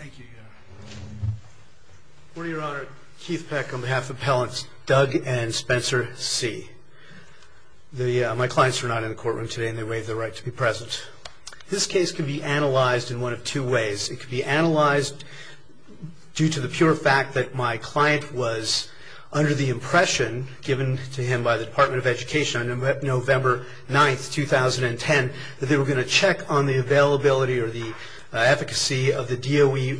Education, November 9, 2010, that they were going to check on the availability or the DOE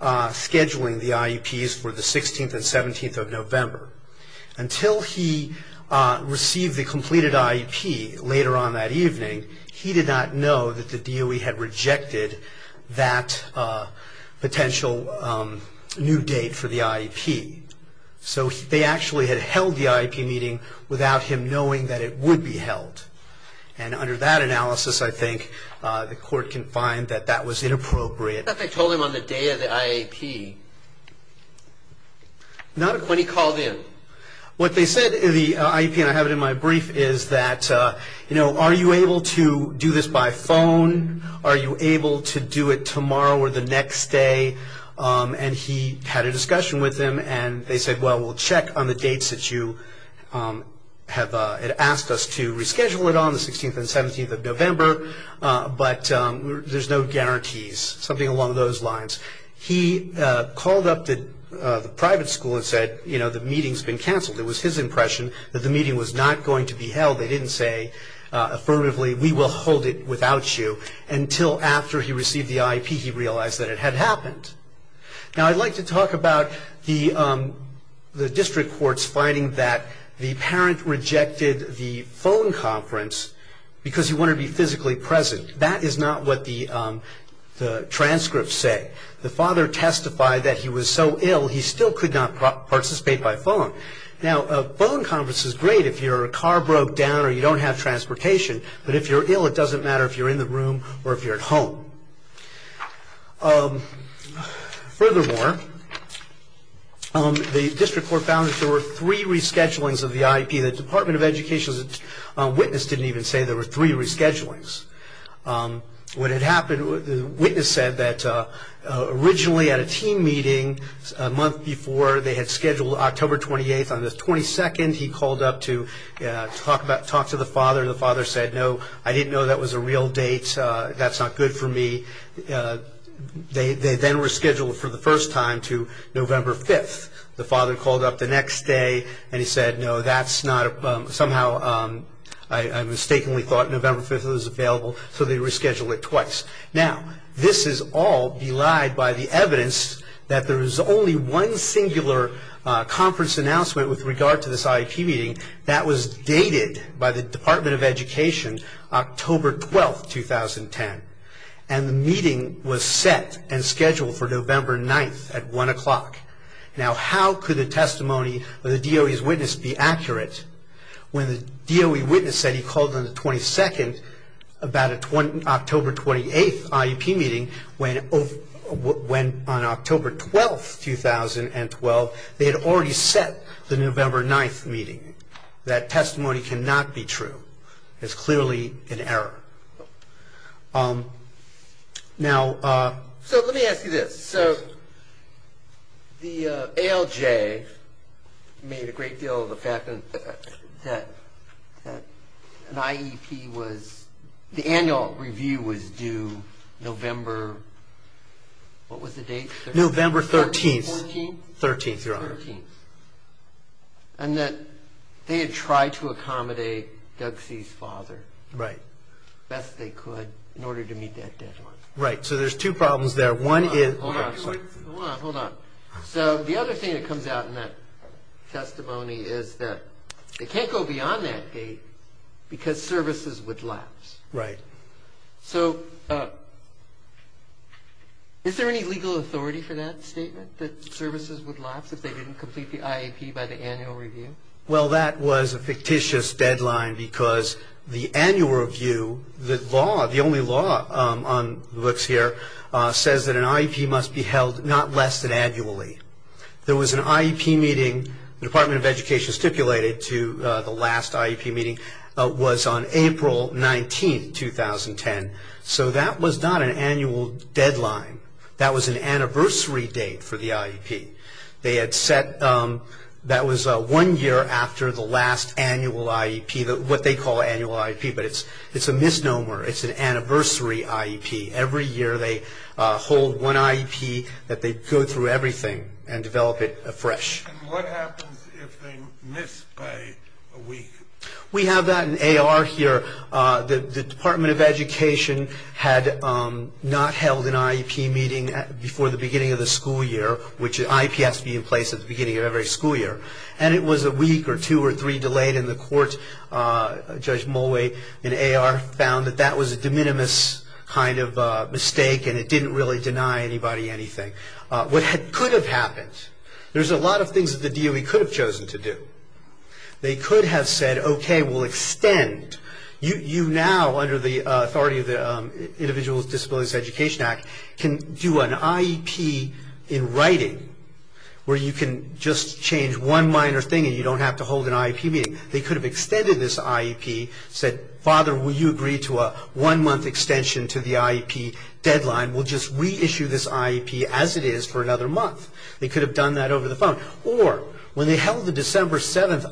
rescheduling the IEPs for the 16th and 17th of November. Until he received the completed IEP later on that evening, he did not know that the DOE had rejected that potential new date for the IEP. So they actually had held the IEP meeting without him knowing that it on the day of the IEP when he called in. What they said in the IEP, and I have it in my brief, is that, you know, are you able to do this by phone? Are you able to do it tomorrow or the next day? And he had a discussion with them, and they said, well, we'll check on the dates that you have asked us to reschedule it on, the 16th and 17th of November, but there's no guarantees, something along those lines. He called up the private school and said, you know, the meeting's been canceled. It was his impression that the meeting was not going to be held. They didn't say affirmatively, we will hold it without you, until after he received the IEP he realized that it had happened. Now I'd like to talk about the district courts finding that the parent rejected the phone conference because he wanted to be physically present. That is not what the transcripts say. The father testified that he was so ill he still could not participate by phone. Now a phone conference is great if your car broke down or you don't have transportation, but if you're ill it doesn't matter if you're in the room or if you're at home. Furthermore, the district court found that there were three reschedulings of the IEP. The Department of Education's witness didn't even say there were three reschedulings. When it happened, the witness said that originally at a team meeting a month before they had scheduled October 28th on the 22nd he called up to talk to the father. The father said, no, I didn't know that was a real date, that's not good for me. They then rescheduled for the first time to November 5th. The father called up the next day and said, no, I mistakenly thought November 5th was available, so they rescheduled it twice. This is all belied by the evidence that there is only one singular conference announcement with regard to this IEP meeting that was dated by the Department of Education October 12th, 2010. The meeting was set and scheduled for November 9th at 1 o'clock. Now, how could the testimony of the DOE's witness be accurate when the DOE witness said he called on the 22nd about an October 28th IEP meeting when on October 12th, 2012 they had already set the November 9th meeting. That testimony cannot be true. It's clearly an error. So, let me ask you this. The ALJ made a great deal of the fact that an IEP was, the annual review was due November, what was the date, 13th? November 13th, your honor. And that they had tried to accommodate Doug C's father. Right. Best they could in order to meet that deadline. Right. So, there's two problems there. One is... Hold on, hold on. So, the other thing that comes out in that testimony is that it can't go beyond that date because services would lapse. Right. So, is there any legal authority for that statement that services would lapse if they didn't complete the IEP by the annual review? Well, that was a fictitious deadline because the annual review, the law, the only law on the books here says that an IEP must be held not less than annually. There was an IEP meeting, the Department of Education stipulated to the last IEP meeting was on April 19th, 2010. So, that was not an annual deadline. That was an anniversary date for the IEP. They had set, that was one year after the last annual IEP, what they call annual IEP, but it's a misnomer. It's an anniversary IEP. Every year they hold one IEP that they go through everything and develop it afresh. What happens if they miss pay a week? We have that in AR here. The Department of Education had not held an IEP meeting before the beginning of the school year, which an IEP has to be in place at the beginning of every school year, and it was a week or two or three delayed in the court. Judge Mulway in AR found that that was a de minimis kind of mistake and it didn't really deny anybody anything. What could have happened? There's a lot of things that the DOE could have chosen to do. They could have said, okay, we'll extend. You now, under the authority of the Individuals with Disabilities Education Act, can do an IEP in writing where you can just change one minor thing and you don't have to hold an IEP meeting. They could have extended this IEP, said, father, will you agree to a one month extension to the IEP deadline? We'll just reissue this IEP as it is for another month. They could have done that over the phone. Or, when they held the December 7th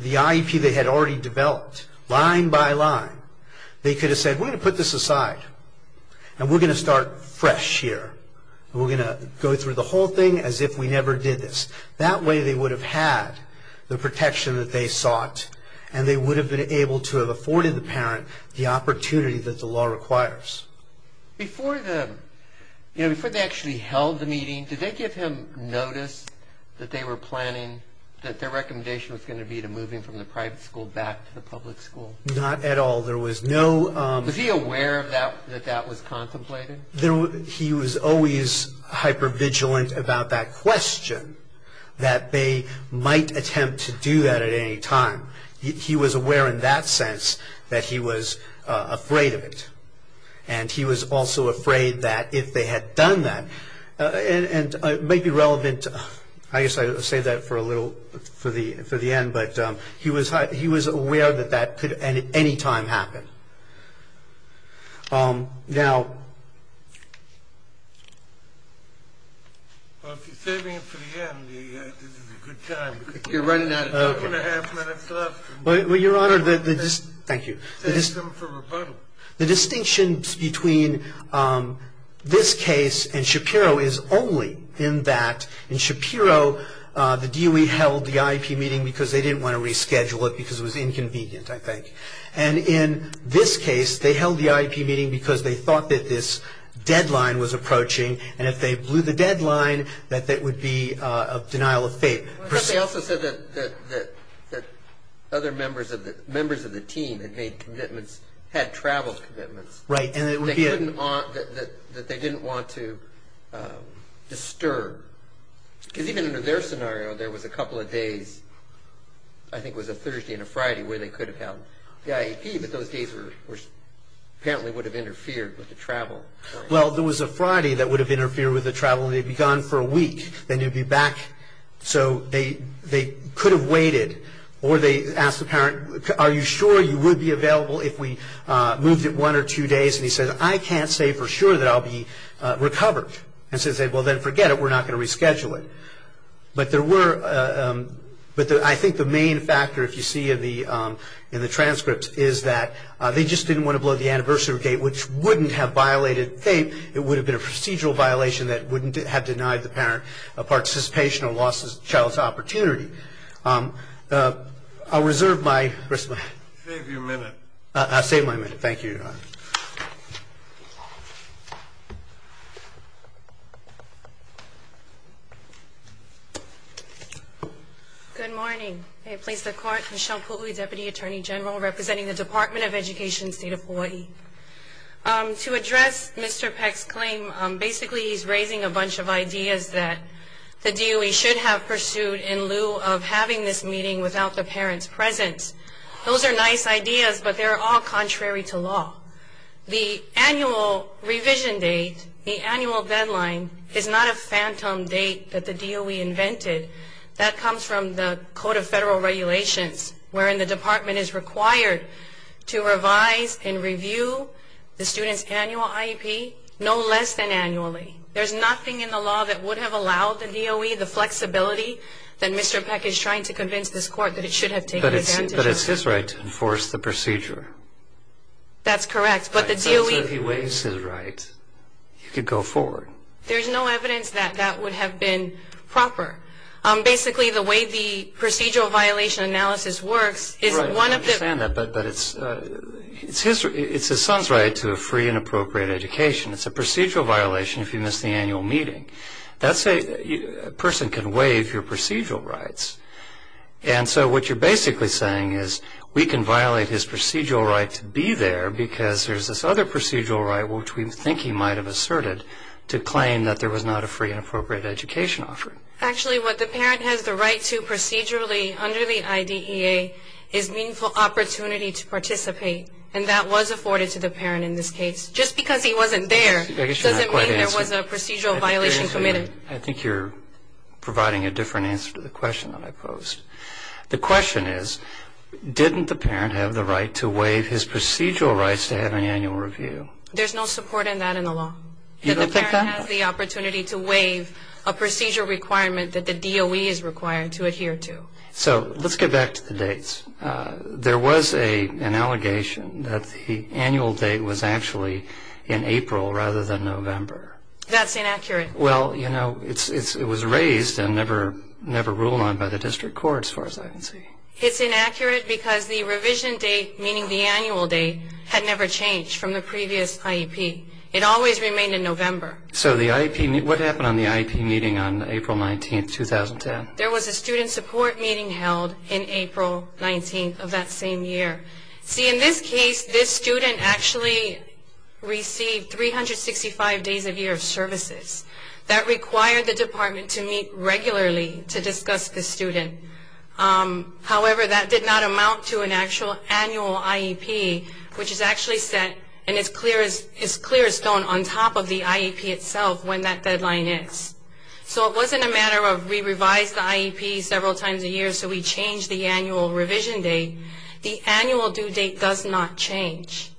the IEP they had already developed, line by line, they could have said, we're going to put this aside and we're going to start fresh here. We're going to go through the whole thing as if we never did this. That way they would have had the protection that they sought and they would have been able to have afforded the parent the opportunity that the law requires. Before they actually held the meeting, did they give him notice that they were planning that their recommendation was going to be moving from the private school back to the public school? Not at all. Was he aware that that was contemplated? He was always hyper-vigilant about that question, that they might attempt to do that at any time. He was aware in that sense that he was afraid of it. He was also afraid that if they had done that, and it is obvious, I'll save that for the end, but he was aware that that could at any time happen. Well, if you're saving it for the end, this is a good time. You're running out of time. Two and a half minutes left. Thank you. Save them for rebuttal. The distinction between this case and Shapiro is only in that in Shapiro, the DOE held the IEP meeting because they didn't want to reschedule it because it was inconvenient, I think. In this case, they held the IEP meeting because they thought that this deadline was approaching, and if they blew the deadline, that that would be a denial of faith. But they also said that other members of the team that made commitments had traveled commitments. Right. And that they didn't want to disturb. Because even under their scenario, there was a couple of days, I think it was a Thursday and a Friday, where they could have held the IEP, but those days apparently would have interfered with the travel. Well, there was a Friday that would have interfered with the travel, and they'd be gone for a week, then they'd be back. So they could have waited, or they asked the parent, are you going to hold it one or two days, and he said, I can't say for sure that I'll be recovered. And so they said, well, then forget it, we're not going to reschedule it. But there were, but I think the main factor, if you see in the transcripts, is that they just didn't want to blow the anniversary date, which wouldn't have violated faith, it would have been a procedural violation that wouldn't have denied the parent a participation or lost the child's opportunity. I'll reserve my, where's my hand? Save your minute. I'll save my minute, thank you. Good morning. I place the court, Michelle Pukui, Deputy Attorney General, representing the Department of Education, State of Hawaii. To address Mr. Peck's claim, basically he's raising a bunch of ideas that the DOE should have pursued in lieu of having this meeting without the parents' presence. Those are nice ideas, but they're all contrary to law. The annual revision date, the annual deadline, is not a phantom date that the DOE invented. That comes from the Code of Federal Regulations, wherein the department is required to revise and review the student's annual IEP no less than annually. There's nothing in the law that would have allowed the DOE the flexibility that Mr. Peck is trying to convince this court that it should have taken advantage of. But it's his right to enforce the procedure. That's correct, but the DOE... Right, so if he waives his right, he could go forward. There's no evidence that that would have been proper. Basically the way the procedural violation analysis works is one of the... Right, I understand that, but it's his son's right to a free and appropriate education. It's a procedural violation if you miss the annual meeting. That's a, a person can waive your procedural rights. And so what you're basically saying is we can violate his procedural right to be there because there's this other procedural right which we think he might have asserted to claim that there was not a free and appropriate education offered. Actually what the parent has the right to procedurally under the IDEA is meaningful opportunity to participate, and that was afforded to the parent in this case. Just because he wasn't there doesn't mean there was a procedural violation committed. I think you're providing a different answer to the question that I posed. The question is, didn't the parent have the right to waive his procedural rights to have an annual review? There's no support in that in the law. You don't think that? The parent has the opportunity to waive a procedure requirement that the DOE is required to adhere to. So let's get back to the dates. There was a, an allegation that the annual date was actually in April rather than November. That's inaccurate. Well, you know, it was raised and never ruled on by the district court as far as I can see. It's inaccurate because the revision date, meaning the annual date, had never changed from the previous IEP. It always remained in November. So the IEP, what happened on the IEP meeting on April 19th, 2010? There was a student support meeting held in April 19th of that same year. See, in this case, this student actually received 365 days a year of services. That required the department to meet regularly to discuss the student. However, that did not amount to an actual annual IEP, which is actually set and is clear as stone on top of the IEP itself when that deadline is. So it wasn't a matter of we revised the IEP several times a year so we changed the annual revision date. The annual due date does not change.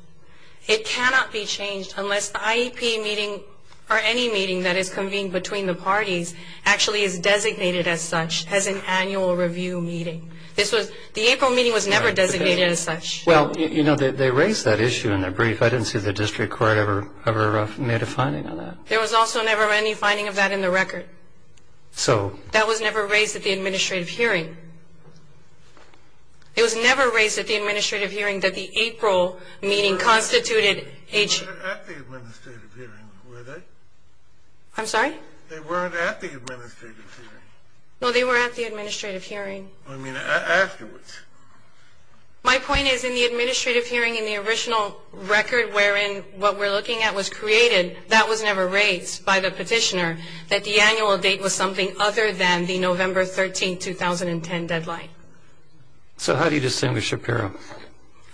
It cannot be changed unless the IEP meeting or any meeting that is convened between the parties actually is designated as such as an annual review meeting. This was, the April meeting was never designated as such. Well, you know, they raised that issue in their brief. I didn't see the district court ever made a finding on that. There was also never any finding of that in the record. So. That was never raised at the administrative hearing. It was never raised at the administrative hearing that the April meeting constituted. They weren't at the administrative hearing, were they? I'm sorry? They weren't at the administrative hearing. No, they were at the administrative hearing. I mean, afterwards. My point is in the administrative hearing in the original record wherein what we're looking at was created, that was never raised by the petitioner that the annual date was something other than the November 13, 2010 deadline. So how do you distinguish Shapiro?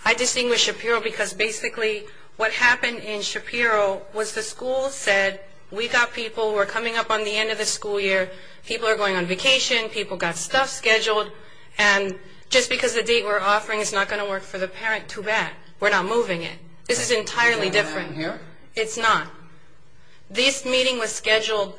I distinguish Shapiro because basically what happened in Shapiro was the school said we got people who were coming up on the end of the school year. People are going on vacation. People got stuff scheduled. And just because the date we're offering is not going to work for the parent, too bad. We're not moving it. This is entirely different. It's not. This meeting was scheduled.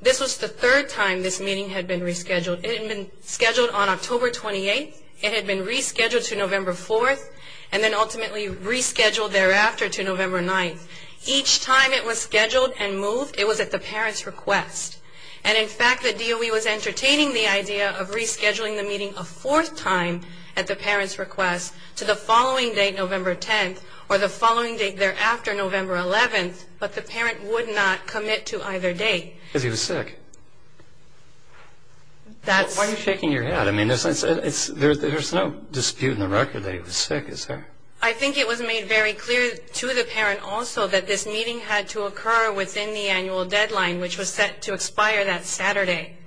This was the third time this meeting had been rescheduled. It had been scheduled on October 28th. It had been rescheduled to November 4th and then ultimately rescheduled thereafter to November 9th. Each time it was scheduled and moved, it was at the parent's request. And in fact, the DOE was entertaining the idea of rescheduling the meeting a fourth time at the parent's request to the following date, November 10th, or the following date either after November 11th, but the parent would not commit to either date. Because he was sick. That's... Why are you shaking your head? I mean, there's no dispute in the record that he was sick, is there? I think it was made very clear to the parent also that this meeting had to occur within the annual deadline, which was set to expire that Saturday.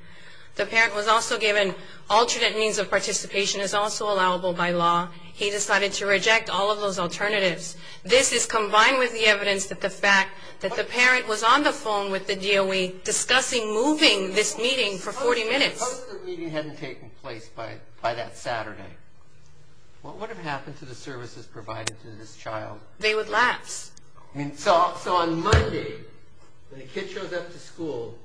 The parent was also given alternate means of participation is also allowable by law. He decided to reject all of those alternatives. This is combined with the evidence that the fact that the parent was on the phone with the DOE discussing moving this meeting for 40 minutes. Suppose the meeting hadn't taken place by that Saturday. What would have happened to the services provided to this child? They would lapse. I mean, so on Monday, when the kid shows up to school,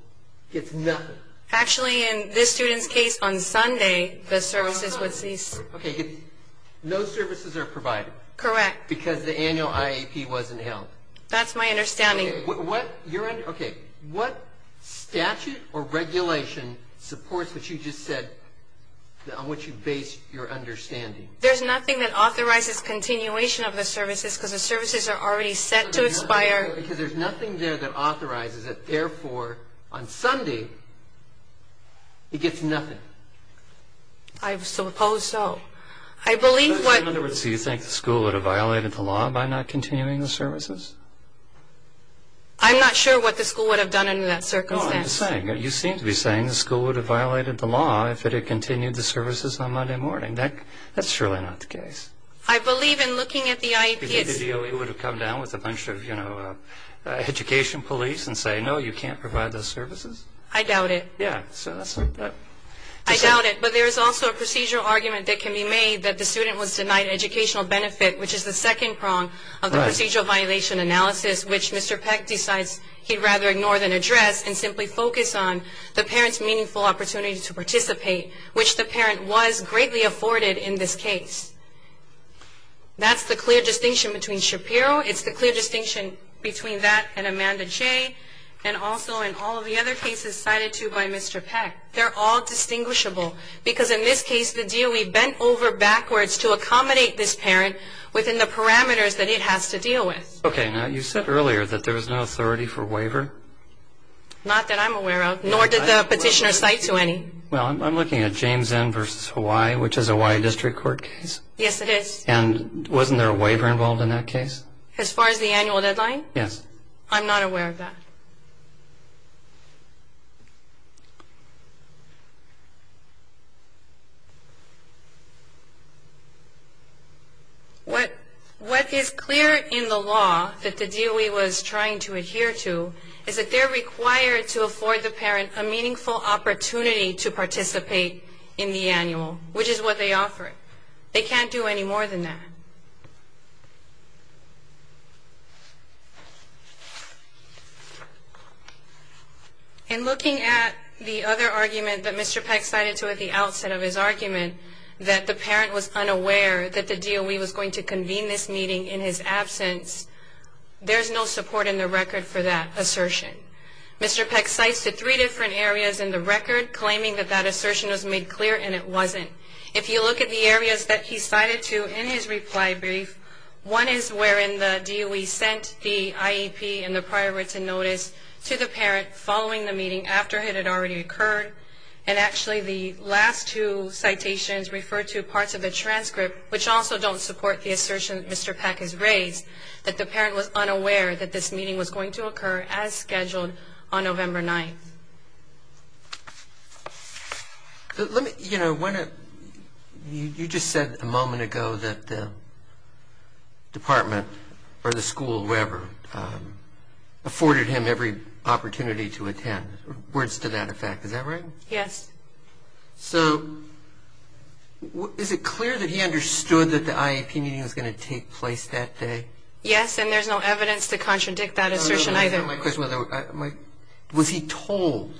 gets nothing. Actually in this student's case, on Sunday, the services would cease. Okay, no services are provided. Correct. Because the annual IAP wasn't held. That's my understanding. Okay, what statute or regulation supports what you just said, on which you base your understanding? There's nothing that authorizes continuation of the services because the services are already set to expire. Because there's nothing there that authorizes it, therefore, on Sunday, he gets nothing. I suppose so. I believe what... In other words, do you think the school would have violated the law by not continuing the services? I'm not sure what the school would have done in that circumstance. No, I'm just saying, you seem to be saying the school would have violated the law if it had continued the services on Monday morning. That's surely not the case. I believe in looking at the IAP... Do you think the DOE would have come down with a bunch of, you know, education police and say, no, you can't provide those services? I doubt it. Yeah, so that's... I doubt it, but there is also a procedural argument that can be made that the student was denied educational benefit, which is the second prong of the procedural violation analysis, which Mr. Peck decides he'd rather ignore than address, and simply focus on the parent's meaningful opportunity to participate, which the parent was greatly afforded in this case. That's the clear distinction between Shapiro. It's the clear distinction between that and Amanda Jay, and also in all of the other cases cited to by Mr. Peck. They're all distinguishable, because in this case, the DOE bent over backwards to accommodate this parent within the parameters that it has to deal with. Okay, now you said earlier that there was no authority for waiver? Not that I'm aware of, nor did the petitioner cite to any. Well, I'm looking at James N. v. Hawaii, which is a Hawaii District Court case. Yes, it is. And wasn't there a waiver involved in that case? As far as the annual deadline? Yes. I'm not aware of that. What is clear in the law that the DOE was trying to adhere to, is that they're required to afford the parent a meaningful opportunity to participate in the annual, which is what they offer. They can't do any more than that. Okay. In looking at the other argument that Mr. Peck cited to at the outset of his argument, that the parent was unaware that the DOE was going to convene this meeting in his absence, there's no support in the record for that assertion. Mr. Peck cites the three different areas in the record, claiming that that assertion was made clear, and it wasn't. If you look at the areas that he cited to in his reply brief, one is wherein the DOE sent the IEP and the prior written notice to the parent following the meeting, after it had already occurred. And actually, the last two citations refer to parts of the transcript, which also don't support the assertion that Mr. Peck has raised, that the parent was unaware that this meeting was going to occur as scheduled on November 9th. Let me, you know, you just said a moment ago that the department, or the school, whatever, afforded him every opportunity to attend. Words to that effect. Is that right? Yes. So, is it clear that he understood that the IEP meeting was going to take place that day? Yes, and there's no evidence to contradict that assertion either. My question was, was he told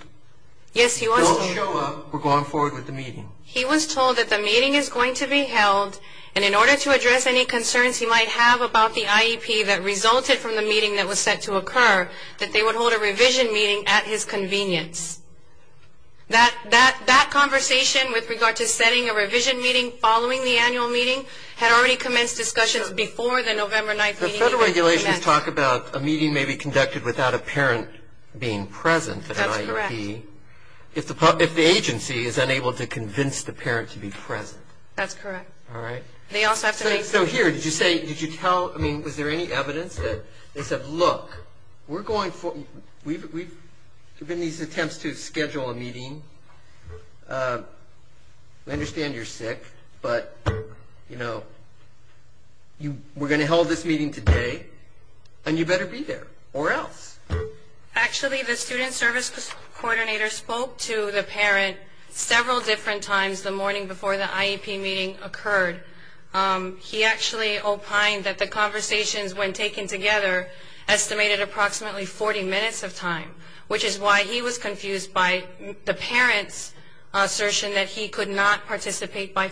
he won't show up or go on forward with the meeting? He was told that the meeting is going to be held, and in order to address any concerns he might have about the IEP that resulted from the meeting that was set to occur, that they would hold a revision meeting at his convenience. That conversation with regard to setting a revision meeting following the annual meeting had already commenced discussions before the November 9th meeting. The federal regulations talk about a meeting may be conducted without a parent being present at an IEP. That's correct. If the agency is unable to convince the parent to be present. That's correct. All right. They also have to make... So here, did you say, did you tell, I mean, was there any evidence that they said, look, we're going for, we've been in these attempts to schedule a meeting, we understand you're you know, we're going to hold this meeting today, and you better be there, or else. Actually the student service coordinator spoke to the parent several different times the morning before the IEP meeting occurred. He actually opined that the conversations, when taken together, estimated approximately 40 minutes of time, which is why he was confused by the parent's assertion that he could not participate by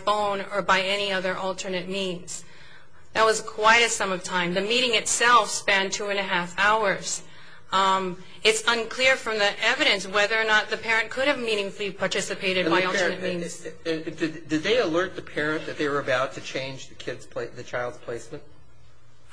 any other alternate means. That was quite a sum of time. The meeting itself spanned two and a half hours. It's unclear from the evidence whether or not the parent could have meaningfully participated by alternate means. Did they alert the parent that they were about to change the child's placement?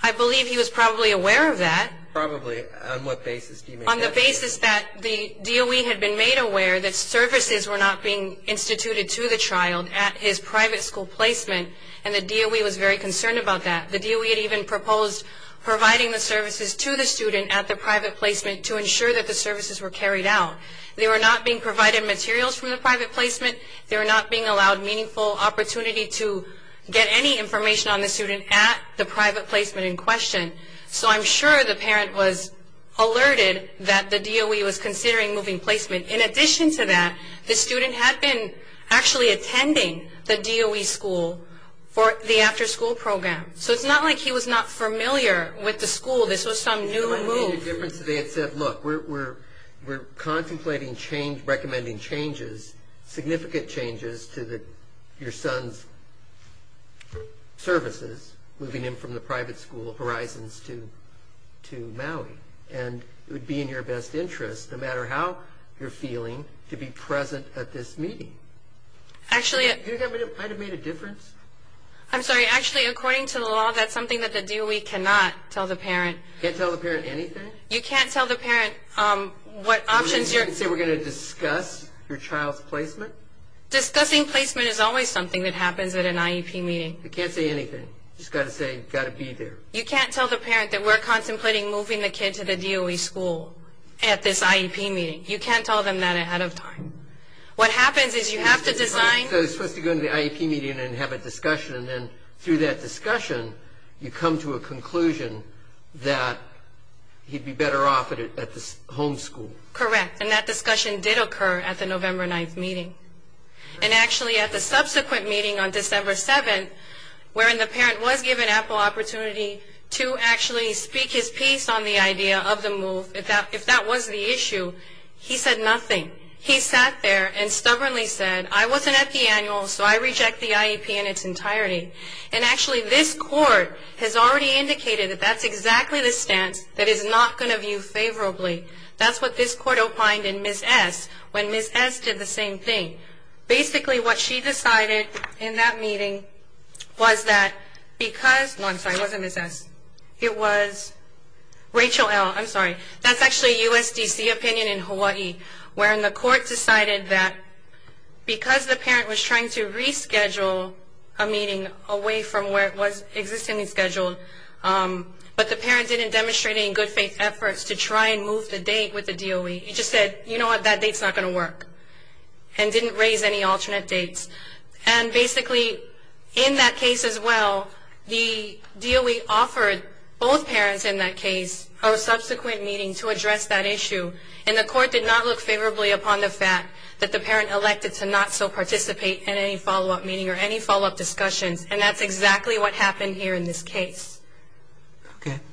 I believe he was probably aware of that. Probably. On what basis do you make that? On the basis that the DOE had been made aware that services were not being instituted to the child at his private school placement, and the DOE was very concerned about that. The DOE had even proposed providing the services to the student at the private placement to ensure that the services were carried out. They were not being provided materials from the private placement. They were not being allowed meaningful opportunity to get any information on the student at the private placement in question. So I'm sure the parent was alerted that the DOE was considering moving placement. In addition to that, the student had been actually attending the DOE school for the after-school program. So it's not like he was not familiar with the school. This was some new move. The DOE made a difference. They had said, look, we're contemplating recommending significant changes to your son's services moving him from the private school, Horizons, to Maui, and it would be in your best interest, no matter how you're feeling, to be present at this meeting. Actually... Do you think that might have made a difference? I'm sorry, actually, according to the law, that's something that the DOE cannot tell the parent. Can't tell the parent anything? You can't tell the parent what options you're... You're saying we're going to discuss your child's placement? Discussing placement is always something that happens at an IEP meeting. You can't say anything. You've just got to say, you've got to be there. You can't tell the parent that we're contemplating moving the kid to the DOE school at this IEP meeting. You can't tell them that ahead of time. What happens is you have to design... So they're supposed to go to the IEP meeting and have a discussion, and then through that discussion, you come to a conclusion that he'd be better off at the home school. Correct. And that discussion did occur at the November 9th meeting. And actually, at the subsequent meeting on December 7th, wherein the parent was given an ample opportunity to actually speak his piece on the idea of the move, if that was the issue, he said nothing. He sat there and stubbornly said, I wasn't at the annual, so I reject the IEP in its entirety. And actually, this court has already indicated that that's exactly the stance that is not going to view favorably. That's what this court opined in Ms. S., when Ms. S. did the same thing. Basically, what she decided in that meeting was that because... No, I'm sorry. It wasn't Ms. S. It was Rachel L. I'm sorry. That's actually a USDC opinion in Hawaii, wherein the court decided that because the parent was trying to reschedule a meeting away from where it was existingly scheduled, but the parent didn't demonstrate any good faith efforts to try and move the date with the DOE. He just said, you know what, that date's not going to work, and didn't raise any alternate dates. And basically, in that case as well, the DOE offered both parents in that case a subsequent meeting to address that issue, and the court did not look favorably upon the fact that the parent elected to not so participate in any follow-up meeting or any follow-up discussions, and that's exactly what happened here in this case. Okay. Thank you.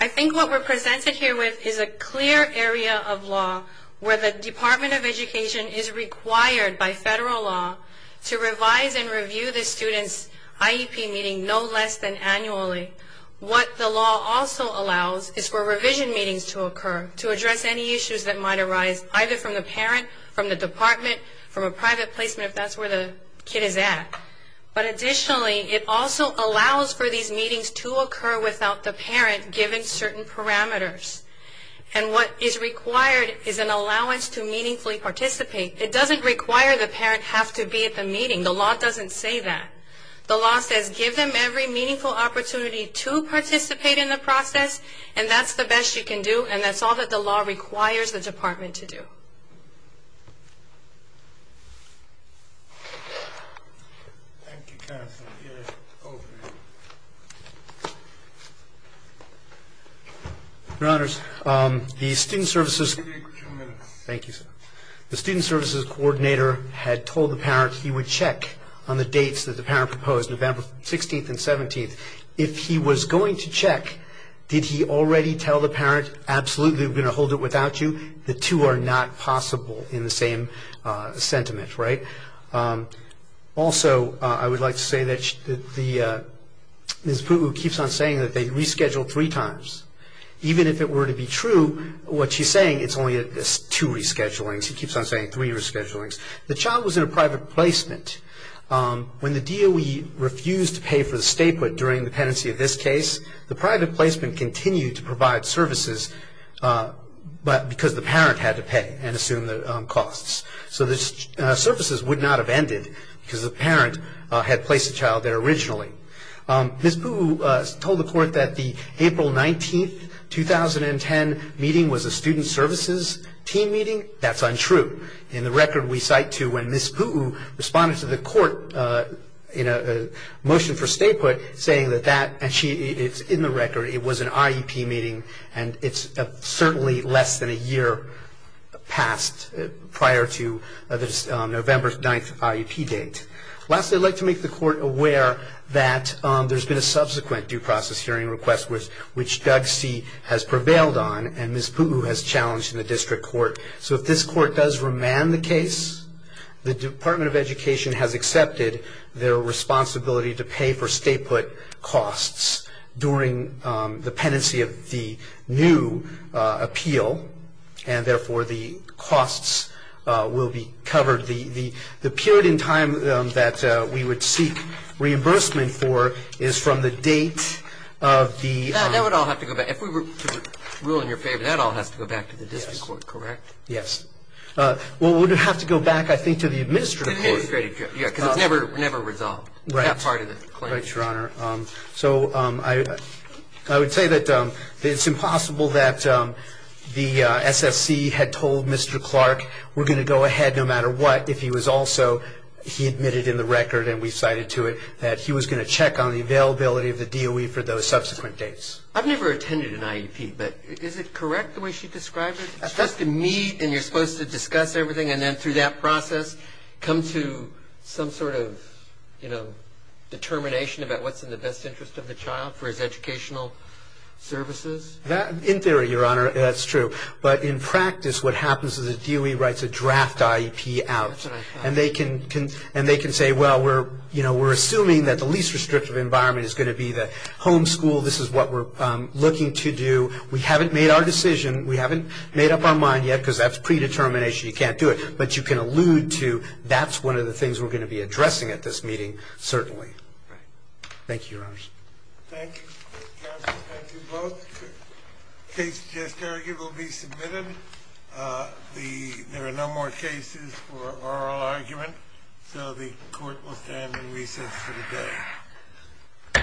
I think what we're presented here with is a clear area of law where the Department of Education is required by federal law to revise and review the student's IEP meeting no less than annually. What the law also allows is for revision meetings to occur to address any issues that might arise, either from the parent, from the department, from a private placement, if that's where the kid is at. But additionally, it also allows for these meetings to occur without the parent giving certain parameters. And what is required is an allowance to meaningfully participate. It doesn't require the parent have to be at the meeting. The law doesn't say that. The law says give them every meaningful opportunity to participate in the process, and that's the best you can do, and that's all that the law requires the department to do. Your Honors, the Student Services Coordinator had told the parent he would check on the dates that the parent proposed, November 16th and 17th. If he was going to check, did he already tell the parent, absolutely, we're going to hold it without you? The two are not possible in the same sentiment, right? Also, I would like to say that Ms. Putlu keeps on saying that they rescheduled three times. Even if it were to be true, what she's saying, it's only two reschedulings. She keeps on saying three reschedulings. The child was in a private placement. When the DOE refused to pay for the stay put during the pendency of this case, the private placement continued to provide services because the parent had to pay and assume the costs. So the services would not have ended because the parent had placed the child there originally. Ms. Putlu told the court that the April 19th, 2010 meeting was a student services team meeting. That's untrue. In the record, we cite to when Ms. Putlu responded to the court in a motion for stay put saying that that, and it's in the record, it was an IEP meeting and it's certainly less than a year past prior to this November 9th IEP date. Lastly, I'd like to make the court aware that there's been a subsequent due process hearing request which Doug C. has prevailed on and Ms. Putlu has challenged in the district court. So if this court does remand the case, the Department of Education has accepted their responsibility to pay for stay put costs during the pendency of the new appeal and therefore the costs will be covered. The period in time that we would seek reimbursement for is from the date of the- That would all have to go back. If we were to rule in your favor, that all has to go back to the district court, correct? Yes. Well, it would have to go back, I think, to the administrative court. Because it's never resolved, that part of the claim. Right, Your Honor. So I would say that it's impossible that the SSC had told Mr. Clark we're going to go ahead no matter what if he was also, he admitted in the record and we cited to it, that he was going to check on the availability of the DOE for those subsequent dates. I've never attended an IEP, but is it correct the way she described it? That's to meet and you're supposed to discuss everything and then through that process come to some sort of, you know, determination about what's in the best interest of the child for his educational services? In theory, Your Honor, that's true. But in practice what happens is the DOE writes a draft IEP out. That's what I thought. And they can say, well, we're assuming that the least restrictive environment is going to be the homeschool. This is what we're looking to do. We haven't made our decision. We haven't made up our mind yet because that's predetermination. You can't do it. But you can allude to that's one of the things we're going to be addressing at this meeting, certainly. Thank you, Your Honor. Thank you, Mr. Johnson. Thank you both. The case to just argue will be submitted. There are no more cases for oral argument, so the court will stand in recess for the day.